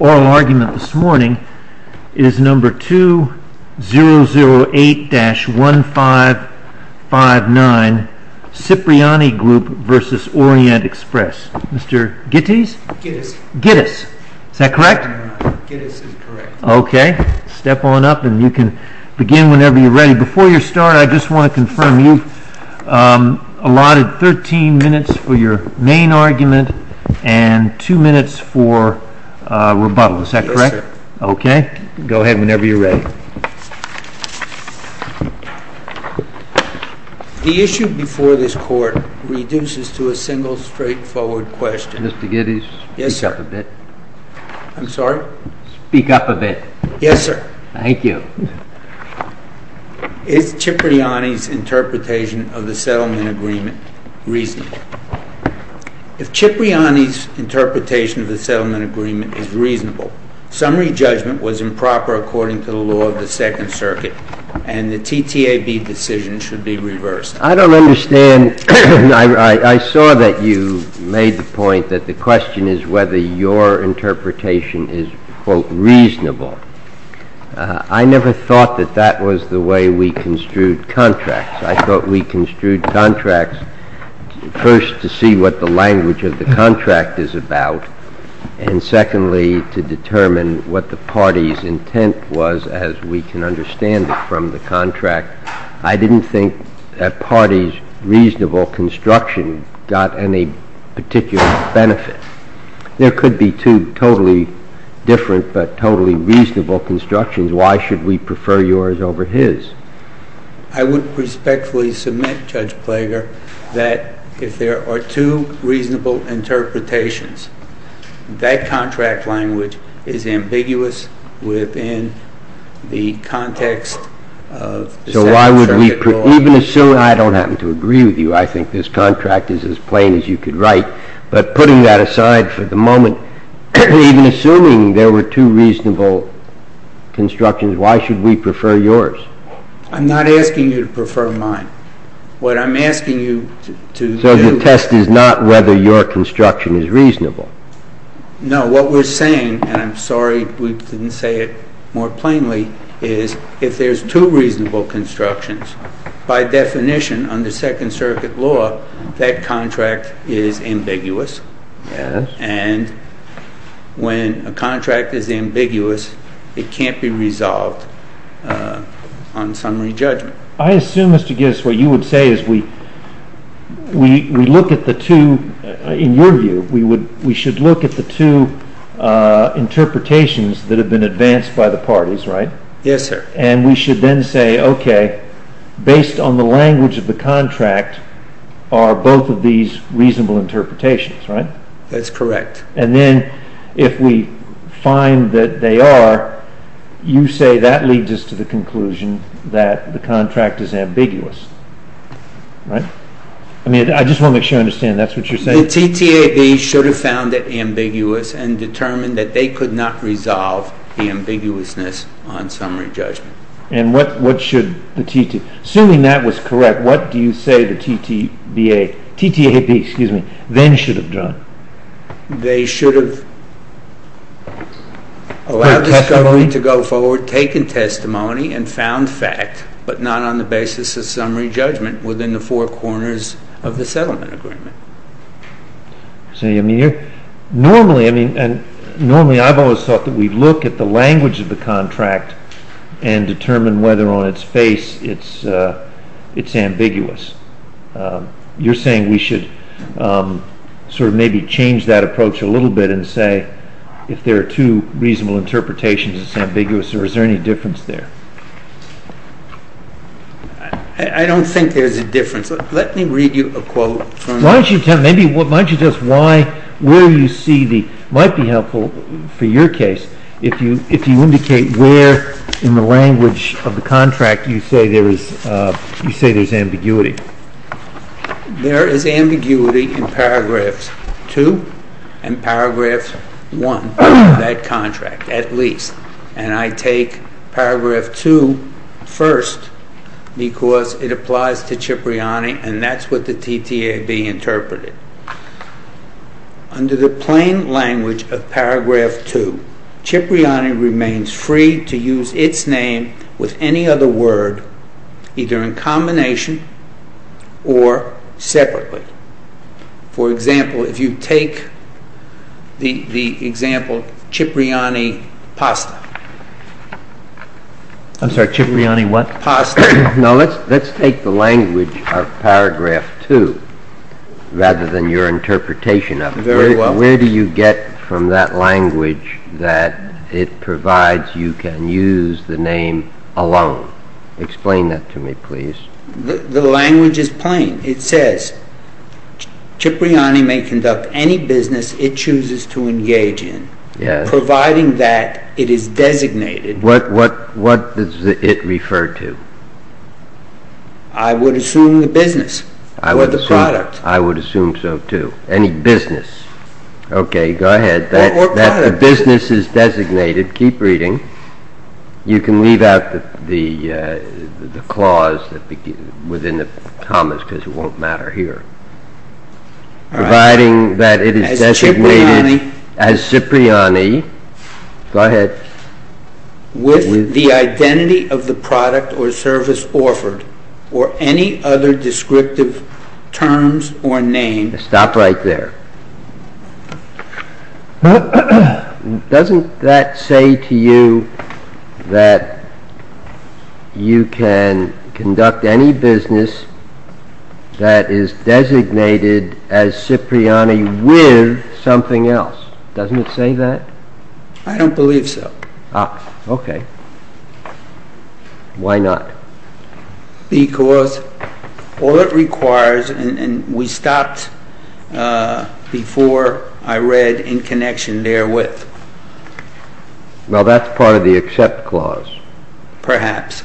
Oral argument this morning is number 2008-1559, Cipriani Group v. Orient-Express. Mr. Gittes? Gittes. Gittes. Is that correct? Gittes is correct. Okay. Step on up and you can begin whenever you're ready. Before you start, I just want to confirm. You've allotted 13 minutes for your main argument and 2 minutes for rebuttal. Is that correct? Yes, sir. Okay. Go ahead whenever you're ready. The issue before this Court reduces to a single straightforward question. Mr. Gittes, speak up a bit. I'm sorry? Speak up a bit. Yes, sir. Thank you. Is Cipriani's interpretation of the settlement agreement reasonable? If Cipriani's interpretation of the settlement agreement is reasonable, summary judgment was improper according to the law of the Second Circuit, and the TTAB decision should be reversed. I don't understand. I saw that you made the point that the question is whether your interpretation is, quote, reasonable. I never thought that that was the way we construed contracts. I thought we construed contracts, first, to see what the language of the contract is about, and secondly, to determine what the party's intent was as we can understand it from the contract. I didn't think that party's reasonable construction got any particular benefit. There could be two totally different but totally reasonable constructions. Why should we prefer yours over his? I would respectfully submit, Judge Plager, that if there are two reasonable interpretations, that contract language is ambiguous within the context of the Second Circuit law. I don't happen to agree with you. I think this contract is as plain as you could write. But putting that aside for the moment, even assuming there were two reasonable constructions, why should we prefer yours? I'm not asking you to prefer mine. What I'm asking you to do— So the test is not whether your construction is reasonable. No, what we're saying—and I'm sorry we didn't say it more plainly—is if there's two reasonable constructions, by definition, under Second Circuit law, that contract is ambiguous. And when a contract is ambiguous, it can't be resolved on summary judgment. I assume, Mr. Gibbs, what you would say is we look at the two—in your view, we should look at the two interpretations that have been advanced by the parties, right? Yes, sir. And we should then say, okay, based on the language of the contract are both of these reasonable interpretations, right? That's correct. And then if we find that they are, you say that leads us to the conclusion that the contract is ambiguous, right? I mean, I just want to make sure I understand. That's what you're saying? The TTAB should have found it ambiguous and determined that they could not resolve the ambiguousness on summary judgment. And what should the TTAB—assuming that was correct, what do you say the TTAB then should have done? They should have allowed the discovery to go forward, taken testimony, and found fact, but not on the basis of summary judgment within the four corners of the settlement agreement. Normally, I've always thought that we look at the language of the contract and determine whether on its face it's ambiguous. You're saying we should sort of maybe change that approach a little bit and say if there are two reasonable interpretations, it's ambiguous, or is there any difference there? I don't think there's a difference. Let me read you a quote. Why don't you tell us where you see the—it might be helpful for your case if you indicate where in the language of the contract you say there's ambiguity. There is ambiguity in paragraph two and paragraph one of that contract, at least. And I take paragraph two first because it applies to Cipriani, and that's what the TTAB interpreted. Under the plain language of paragraph two, Cipriani remains free to use its name with any other word, either in combination or separately. For example, if you take the example Cipriani pasta. I'm sorry, Cipriani what? Pasta. Now, let's take the language of paragraph two rather than your interpretation of it. Very well. Where do you get from that language that it provides you can use the name alone? Explain that to me, please. The language is plain. It says Cipriani may conduct any business it chooses to engage in, providing that it is designated— What does it refer to? I would assume the business or the product. I would assume so, too. Any business. Okay, go ahead. Or product. If a business is designated, keep reading, you can leave out the clause within the commas because it won't matter here. All right. Providing that it is designated as Cipriani— As Cipriani. Go ahead. With the identity of the product or service offered, or any other descriptive terms or name— Stop right there. Doesn't that say to you that you can conduct any business that is designated as Cipriani with something else? Doesn't it say that? I don't believe so. Okay. Why not? Because all it requires—and we stopped before I read in connection therewith. Well, that's part of the accept clause. Perhaps.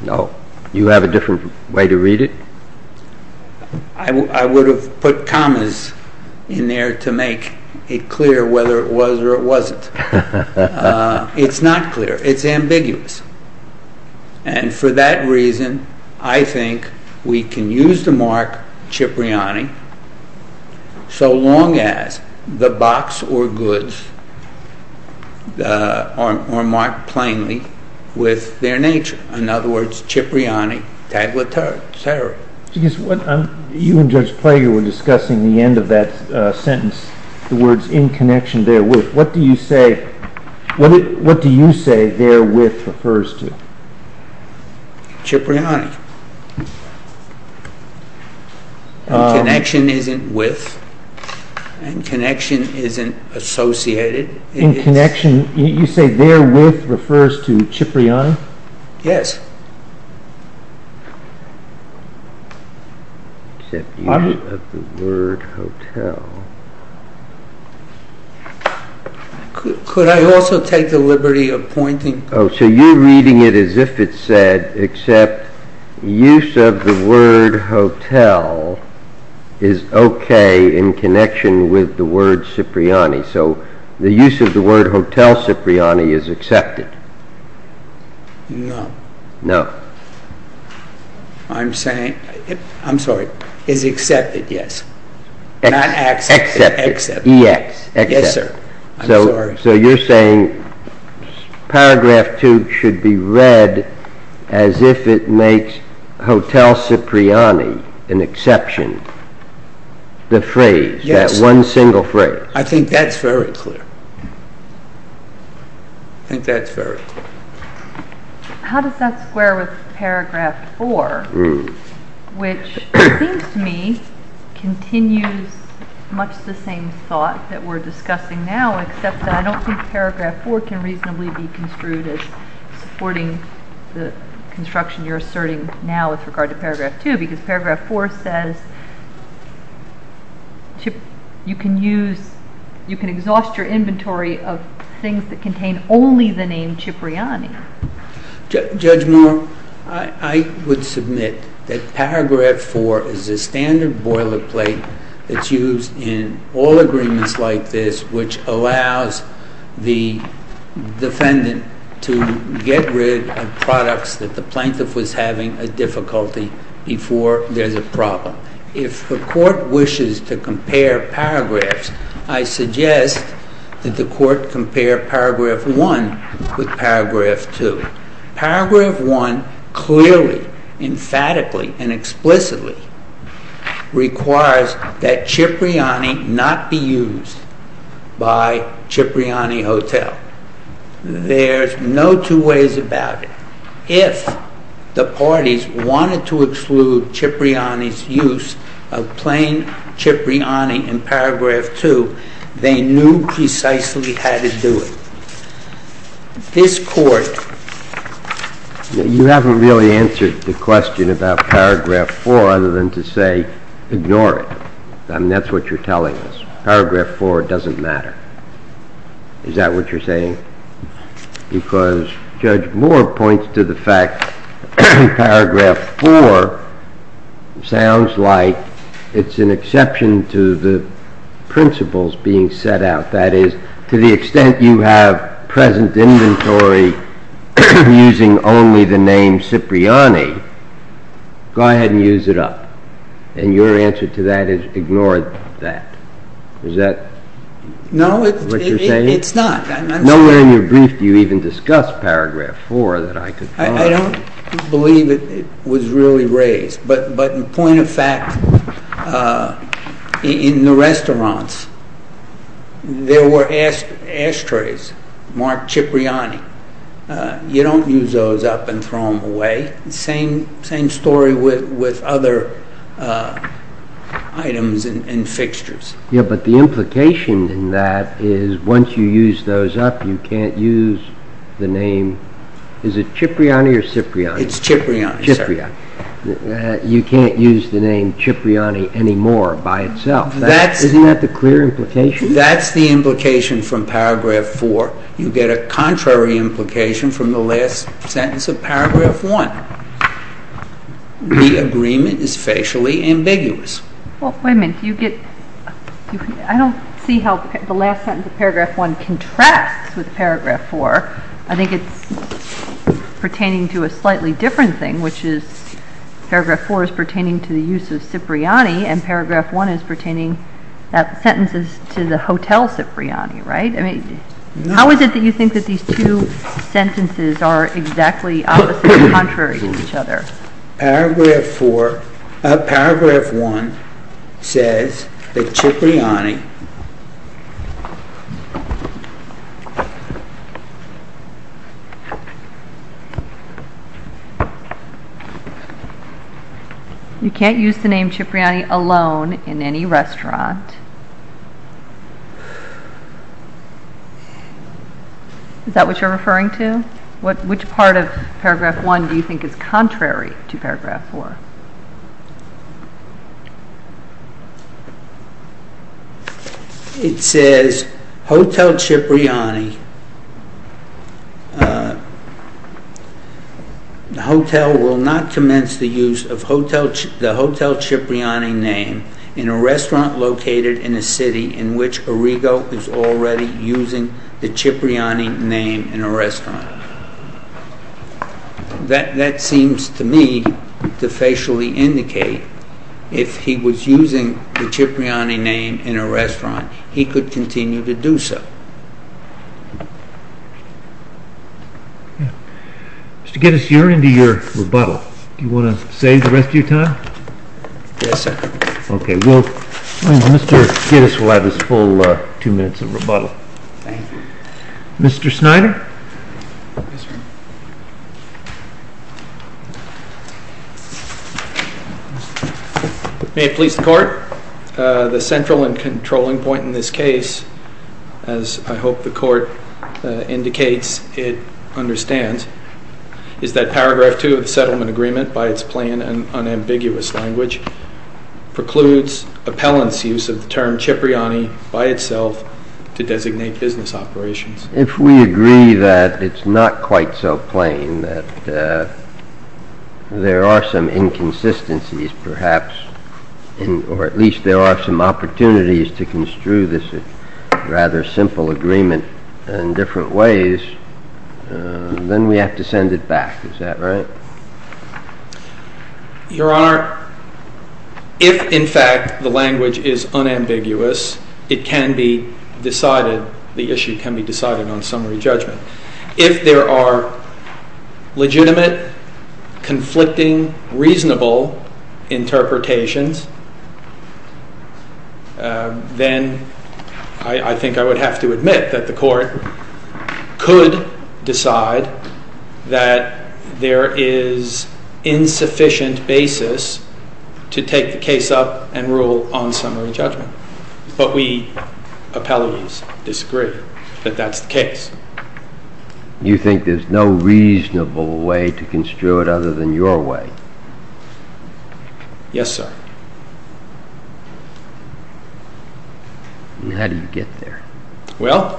No. You have a different way to read it? I would have put commas in there to make it clear whether it was or it wasn't. It's not clear. It's ambiguous. And for that reason, I think we can use the mark Cipriani so long as the box or goods are marked plainly with their nature. In other words, Cipriani, tagliatelle, etc. You and Judge Prager were discussing the end of that sentence, the words in connection therewith. What do you say therewith refers to? Cipriani. Connection isn't with, and connection isn't associated. In connection, you say therewith refers to Cipriani? Yes. Except use of the word hotel. Could I also take the liberty of pointing— Oh, so you're reading it as if it said, except use of the word hotel is okay in connection with the word Cipriani. So the use of the word hotel Cipriani is accepted. No. No. I'm saying—I'm sorry. Is accepted, yes. Excepted. Yes, sir. I'm sorry. So you're saying paragraph two should be read as if it makes hotel Cipriani an exception. The phrase, that one single phrase. I think that's very clear. I think that's very clear. How does that square with paragraph four, which seems to me continues much the same thought that we're discussing now, except that I don't think paragraph four can reasonably be construed as supporting the construction you're asserting now with regard to paragraph two, because paragraph four says you can exhaust your inventory of things that contain only the name Cipriani. Judge Moore, I would submit that paragraph four is a standard boilerplate that's used in all agreements like this, which allows the defendant to get rid of products that the plaintiff was having a difficulty before there's a problem. If the court wishes to compare paragraphs, I suggest that the court compare paragraph one with paragraph two. Paragraph one clearly, emphatically, and explicitly requires that Cipriani not be used by Cipriani Hotel. There's no two ways about it. If the parties wanted to exclude Cipriani's use of plain Cipriani in paragraph two, they knew precisely how to do it. This court... You haven't really answered the question about paragraph four other than to say, ignore it. I mean, that's what you're telling us. Paragraph four doesn't matter. Is that what you're saying? Because Judge Moore points to the fact that paragraph four sounds like it's an exception to the principles being set out. That is, to the extent you have present inventory using only the name Cipriani, go ahead and use it up. And your answer to that is ignore that. Is that what you're saying? No, it's not. Nowhere in your brief do you even discuss paragraph four that I could find. I don't believe it was really raised. But in point of fact, in the restaurants, there were ashtrays marked Cipriani. You don't use those up and throw them away. Same story with other items and fixtures. Yeah, but the implication in that is once you use those up, you can't use the name. Is it Cipriani or Cipriani? It's Cipriani, sir. You can't use the name Cipriani anymore by itself. Isn't that the clear implication? That's the implication from paragraph four. You get a contrary implication from the last sentence of paragraph one. The agreement is facially ambiguous. Well, wait a minute. I don't see how the last sentence of paragraph one contrasts with paragraph four. I think it's pertaining to a slightly different thing, which is paragraph four is pertaining to the use of Cipriani and paragraph one is pertaining, that sentence is to the hotel Cipriani, right? How is it that you think that these two sentences are exactly opposite or contrary to each other? Paragraph one says that Cipriani... You can't use the name Cipriani alone in any restaurant. Is that what you're referring to? Which part of paragraph one do you think is contrary to paragraph four? It says hotel Cipriani... ...in a restaurant located in a city in which Arrigo is already using the Cipriani name in a restaurant. That seems to me to facially indicate if he was using the Cipriani name in a restaurant, he could continue to do so. Mr. Gittes, you're into your rebuttal. Do you want to save the rest of your time? Yes, sir. Okay, well, Mr. Gittes will have his full two minutes of rebuttal. Thank you. Mr. Snyder? Yes, sir. May it please the court, the central and controlling point in this case, as I hope the court indicates it understands, is that paragraph two of the settlement agreement, by its plain and unambiguous language, precludes appellant's use of the term Cipriani by itself to designate business operations. If we agree that it's not quite so plain, that there are some inconsistencies perhaps, or at least there are some opportunities to construe this rather simple agreement in different ways, then we have to send it back, is that right? Your Honor, if in fact the language is unambiguous, it can be decided, the issue can be decided on summary judgment. If there are legitimate, conflicting, reasonable interpretations, then I think I would have to admit that the court could decide that there is insufficient basis to take the case up and rule on summary judgment. But we appellees disagree that that's the case. You think there's no reasonable way to construe it other than your way? Yes, sir. And how do you get there? Well,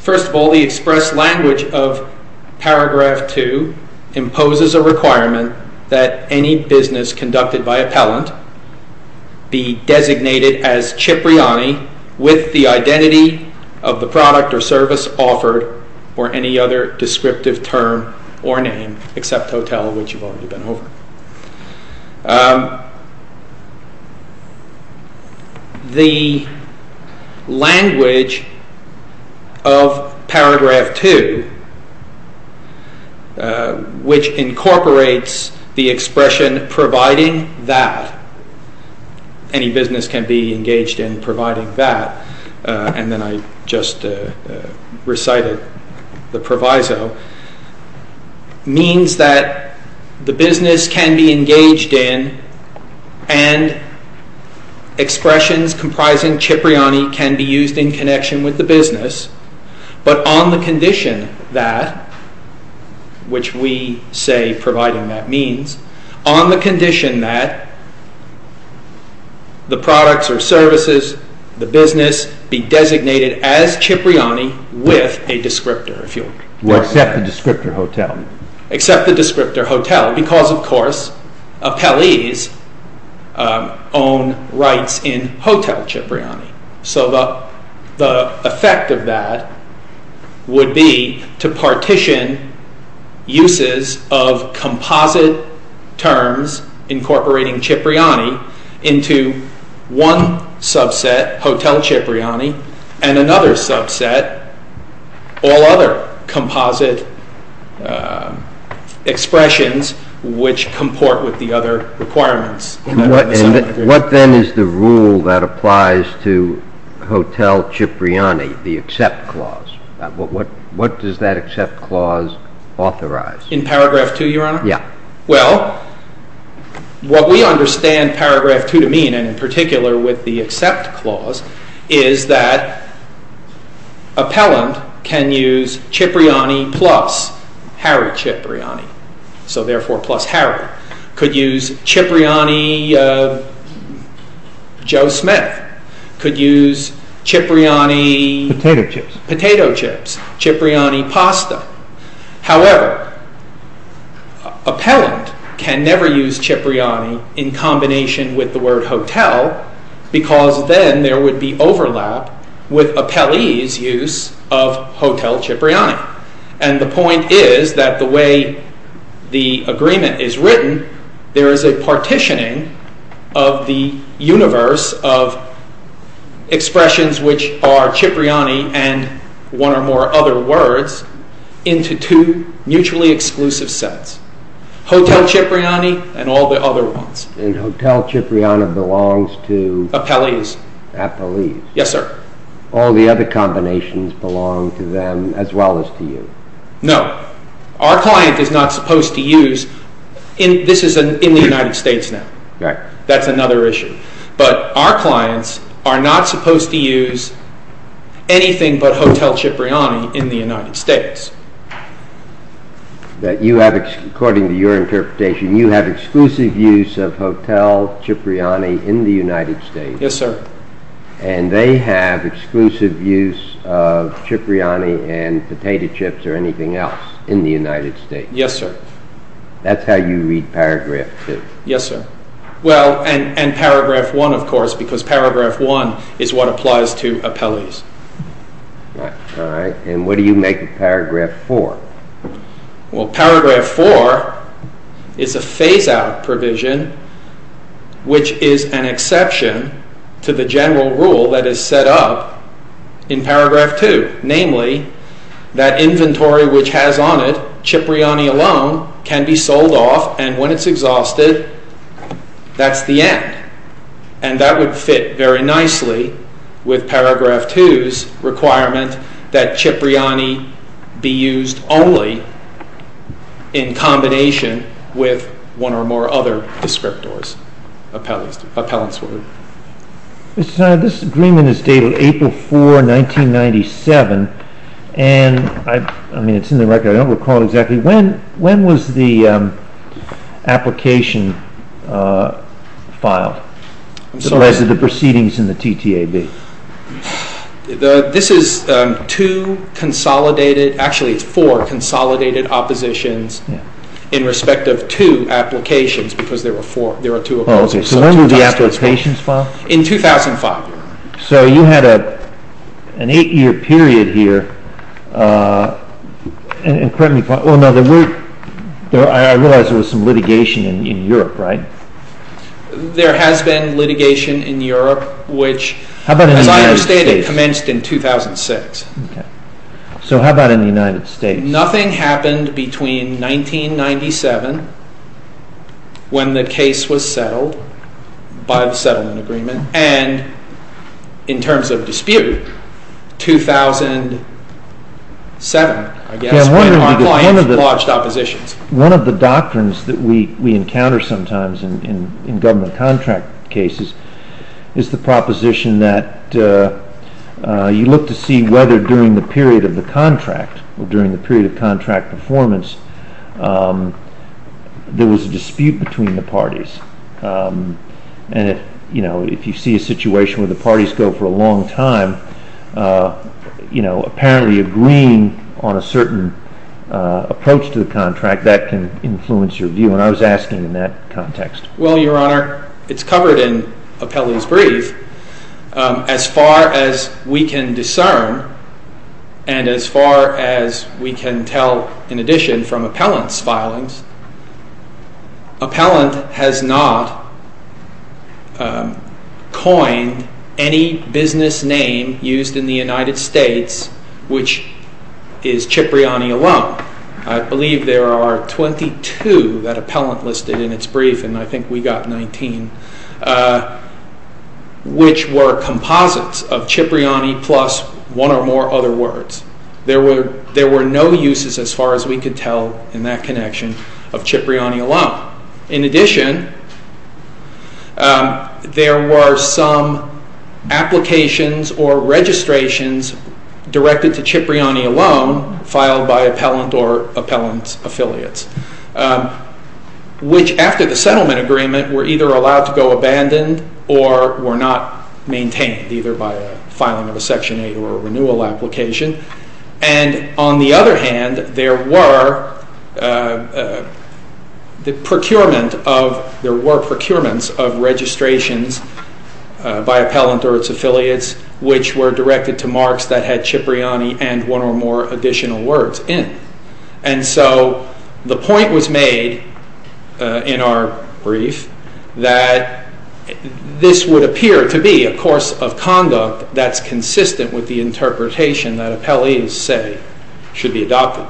first of all, the express language of paragraph two imposes a requirement that any business conducted by appellant be designated as Cipriani with the identity of the product or service offered or any other descriptive term or name except hotel, which you've already been over. The language of paragraph two, which incorporates the expression providing that any business can be engaged in providing that and then I just recited the proviso, means that the business can be engaged in and expressions comprising Cipriani can be used in connection with the business but on the condition that, which we say providing that means, on the condition that the products or services, the business, be designated as Cipriani with a descriptor. Well, except the descriptor hotel. Except the descriptor hotel because, of course, appellees own rights in hotel Cipriani. So the effect of that would be to partition uses of composite terms incorporating Cipriani into one subset, hotel Cipriani, and another subset, all other composite expressions which comport with the other requirements. What then is the rule that applies to hotel Cipriani, the accept clause? What does that accept clause authorize? In paragraph two, Your Honor? Yeah. Well, what we understand paragraph two to mean, and in particular with the accept clause, is that appellant can use Cipriani plus Harry Cipriani, so therefore plus Harry. Could use Cipriani Joe Smith. Could use Cipriani potato chips, Cipriani pasta. However, appellant can never use Cipriani in combination with the word hotel because then there would be overlap with appellee's use of hotel Cipriani. And the point is that the way the agreement is written, there is a partitioning of the universe of expressions which are Cipriani and one or more other words into two mutually exclusive sets, hotel Cipriani and all the other ones. And hotel Cipriani belongs to... Appellees. Appellees. Yes, sir. All the other combinations belong to them as well as to you. No. Our client is not supposed to use... This is in the United States now. Right. That's another issue. But our clients are not supposed to use anything but hotel Cipriani in the United States. That you have, according to your interpretation, you have exclusive use of hotel Cipriani in the United States. Yes, sir. And they have exclusive use of Cipriani and potato chips or anything else in the United States. Yes, sir. That's how you read paragraph 2. Yes, sir. Well, and paragraph 1, of course, because paragraph 1 is what applies to appellees. Right. All right. And what do you make of paragraph 4? Well, paragraph 4 is a phase-out provision, which is an exception to the general rule that is set up in paragraph 2. Namely, that inventory which has on it Cipriani alone can be sold off, and when it's exhausted, that's the end. And that would fit very nicely with paragraph 2's requirement that Cipriani be used only in combination with one or more other descriptors, appellants. Mr. Snyder, this agreement is dated April 4, 1997, and, I mean, it's in the record. I don't recall exactly when. When was the application filed? I'm sorry? The resident proceedings in the TTAB. This is two consolidated, actually it's four consolidated oppositions in respect of two applications, because there were two oppositions. So when were the applications filed? In 2005. So you had an eight-year period here, and correct me if I'm wrong, I realize there was some litigation in Europe, right? There has been litigation in Europe, which as I understand it, commenced in 2006. So how about in the United States? Nothing happened between 1997, when the case was settled, by the settlement agreement, and in terms of dispute, 2007, I guess, when our clients lodged oppositions. One of the doctrines that we encounter sometimes in government contract cases is the proposition that you look to see whether during the period of the contract or during the period of contract performance, there was a dispute between the parties, and if you see a situation where the parties go for a long time, apparently agreeing on a certain approach to the contract, that can influence your view, and I was asking in that context. Well, Your Honor, it's covered in Appelli's brief. As far as we can discern, and as far as we can tell in addition from Appellant's filings, Appellant has not coined any business name used in the United States, which is Cipriani alone. I believe there are 22 that Appellant listed in its brief, and I think we got 19, which were composites of Cipriani plus one or more other words. There were no uses, as far as we could tell in that connection, of Cipriani alone. In addition, there were some applications or registrations directed to Cipriani alone, filed by Appellant or Appellant's affiliates, which after the settlement agreement were either allowed to go abandoned or were not maintained, either by filing of a Section 8 or a renewal application. And on the other hand, there were procurements of registrations by Appellant or its affiliates, which were directed to marks that had Cipriani and one or more additional words in. And so the point was made in our brief that this would appear to be a course of conduct that's consistent with the interpretation that Appellant's say should be adopted.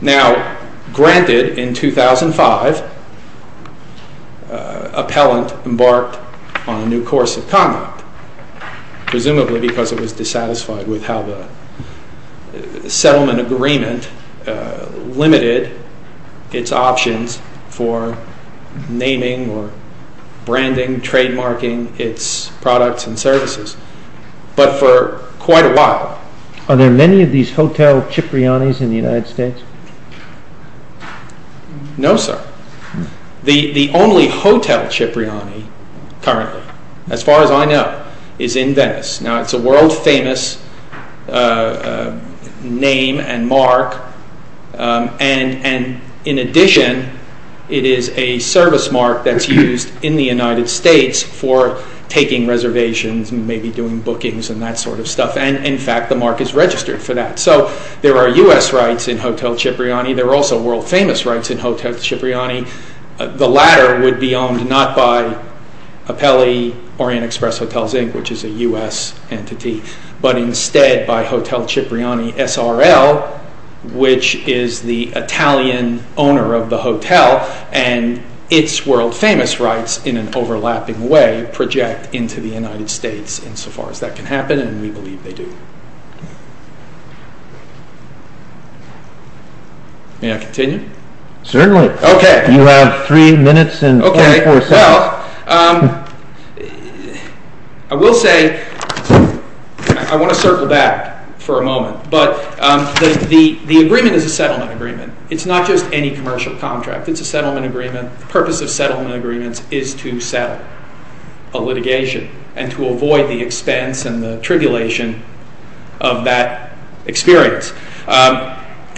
Now, granted, in 2005, Appellant embarked on a new course of conduct, presumably because it was dissatisfied with how the settlement agreement limited its options for naming or branding, trademarking its products and services. But for quite a while... Are there many of these Hotel Cipriani's in the United States? No, sir. The only Hotel Cipriani currently, as far as I know, is in Venice. Now, it's a world-famous name and mark. And in addition, it is a service mark that's used in the United States for taking reservations and maybe doing bookings and that sort of stuff. And, in fact, the mark is registered for that. So there are U.S. rights in Hotel Cipriani. There are also world-famous rights in Hotel Cipriani. The latter would be owned not by Appelli Orient Express Hotels, Inc., which is a U.S. entity, but instead by Hotel Cipriani SRL, which is the Italian owner of the hotel, and its world-famous rights, in an overlapping way, project into the United States, insofar as that can happen, and we believe they do. May I continue? Certainly. Okay. You have three minutes and 24 seconds. Okay. Well, I will say I want to circle back for a moment. But the agreement is a settlement agreement. It's not just any commercial contract. It's a settlement agreement. The purpose of settlement agreements is to settle a litigation and to avoid the expense and the tribulation of that experience.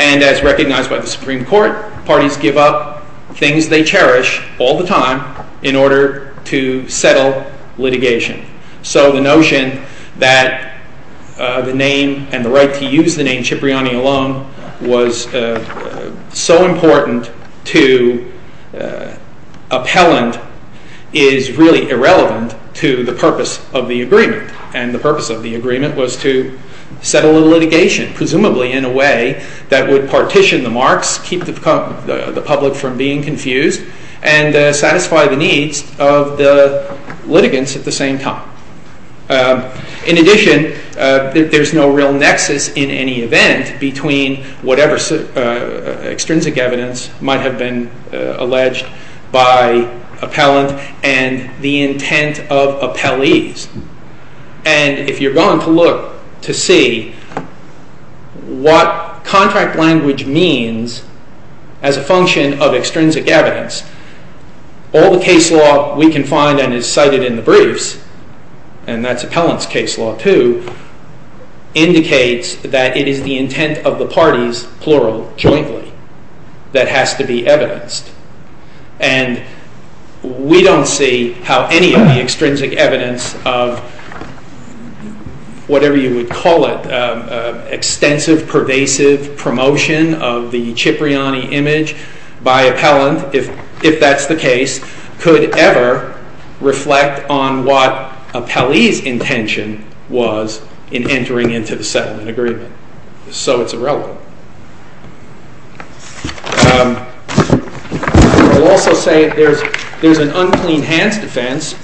And as recognized by the Supreme Court, parties give up things they cherish all the time in order to settle litigation. So the notion that the name and the right to use the name Cipriani alone was so important to Appellant is really irrelevant to the purpose of the agreement. And the purpose of the agreement was to settle a litigation, presumably in a way, that would partition the marks, keep the public from being confused, and satisfy the needs of the litigants at the same time. In addition, there's no real nexus in any event between whatever extrinsic evidence might have been alleged by Appellant and the intent of appellees. And if you're going to look to see what contract language means as a function of extrinsic evidence, all the case law we can find and is cited in the briefs, and that's Appellant's case law too, indicates that it is the intent of the parties, plural, jointly, that has to be evidenced. And we don't see how any of the extrinsic evidence of whatever you would call it, extensive pervasive promotion of the Cipriani image by Appellant, if that's the case, could ever reflect on what appellee's intention was in entering into the settlement agreement. So it's irrelevant. I'll also say there's an unclean hands defense.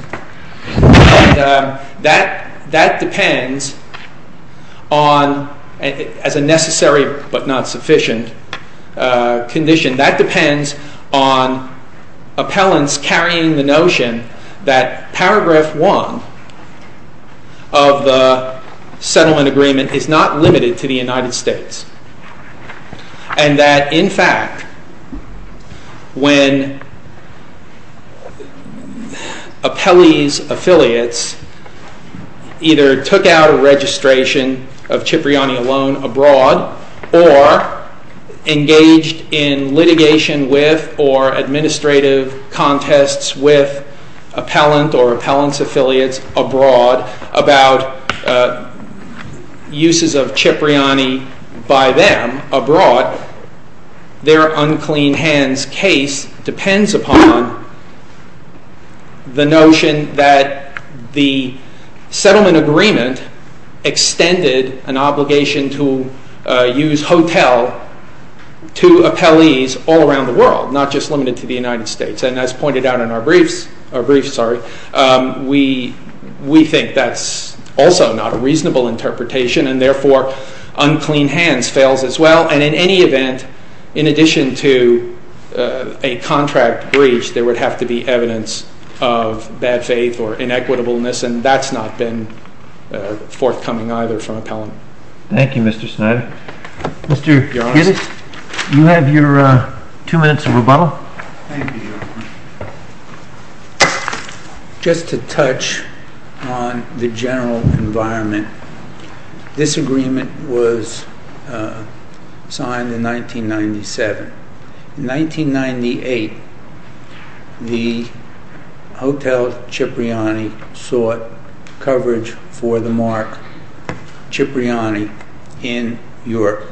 And that depends on, as a necessary but not sufficient condition, that depends on Appellant's carrying the notion that paragraph one of the settlement agreement is not limited to the United States. And that in fact, when appellee's affiliates either took out a registration of Cipriani alone abroad or engaged in litigation with or administrative contests with Appellant or Appellant's affiliates abroad about uses of Cipriani by them abroad, their unclean hands case depends upon the notion that the settlement agreement extended an obligation to use hotel to appellees all around the world, not just limited to the United States. And as pointed out in our briefs, we think that's also not a reasonable interpretation, and therefore unclean hands fails as well. And in any event, in addition to a contract breach, there would have to be evidence of bad faith or inequitableness, and that's not been forthcoming either from Appellant. Thank you, Mr. Snyder. Well, thank you, gentlemen. Just to touch on the general environment, this agreement was signed in 1997. In 1998, the Hotel Cipriani sought coverage for the Mark Cipriani in Europe.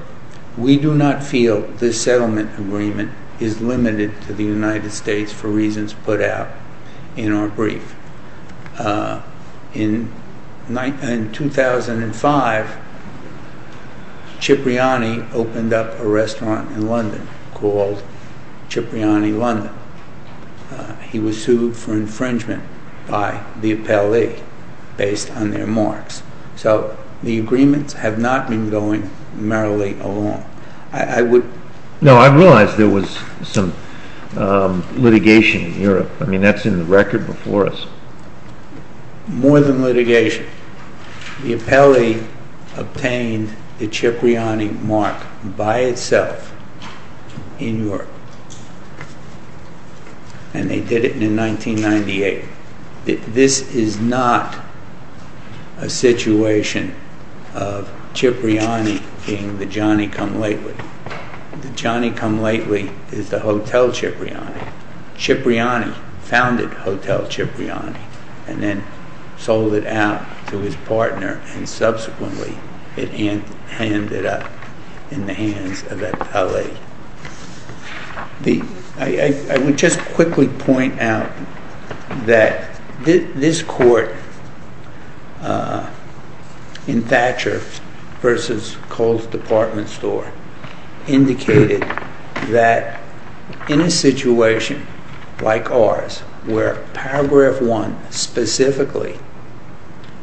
We do not feel this settlement agreement is limited to the United States for reasons put out in our brief. In 2005, Cipriani opened up a restaurant in London called Cipriani London. He was sued for infringement by the appellee based on their marks. So the agreements have not been going merrily along. No, I realize there was some litigation in Europe. I mean, that's in the record before us. More than litigation. The appellee obtained the Cipriani Mark by itself in Europe, and they did it in 1998. This is not a situation of Cipriani being the Johnny Come Lately. The Johnny Come Lately is the Hotel Cipriani. Cipriani founded Hotel Cipriani and then sold it out to his partner, and subsequently it ended up in the hands of the appellee. I would just quickly point out that this court, in Thatcher v. Cole's Department Store, indicated that in a situation like ours, where paragraph one specifically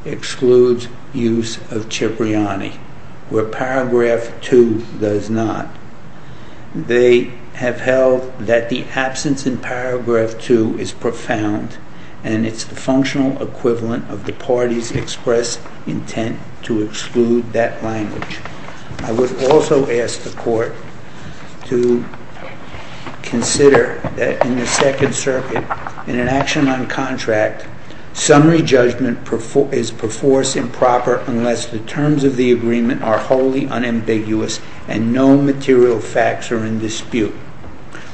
excludes use of Cipriani, where paragraph two does not, they have held that the absence in paragraph two is profound, and it's the functional equivalent of the party's expressed intent to exclude that language. I would also ask the court to consider that in the Second Circuit, in an action on contract, summary judgment is perforce improper unless the terms of the agreement are wholly unambiguous and no material facts are in dispute.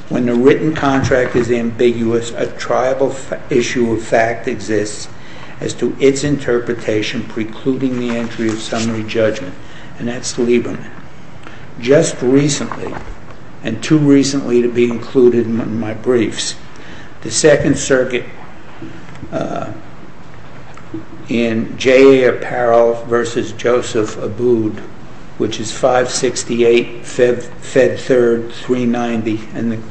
When the written contract is ambiguous, a tribal issue of fact exists as to its interpretation precluding the entry of summary judgment, and that's Lieberman. Just recently, and too recently to be included in my briefs, the Second Circuit in J.A. Apparel v. Joseph Abood, which is 568 Fed Third 390, and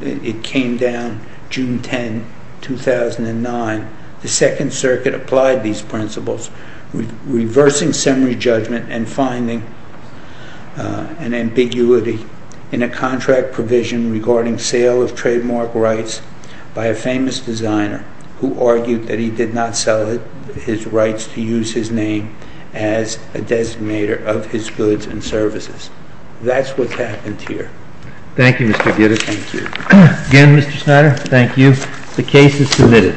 it came down June 10, 2009, the Second Circuit applied these principles, reversing summary judgment and finding an ambiguity in a contract provision regarding sale of trademark rights by a famous designer who argued that he did not sell his rights to use his name as a designator of his goods and services. That's what's happened here. Thank you, Mr. Gitter. Thank you. Again, Mr. Schneider, thank you. The case is submitted.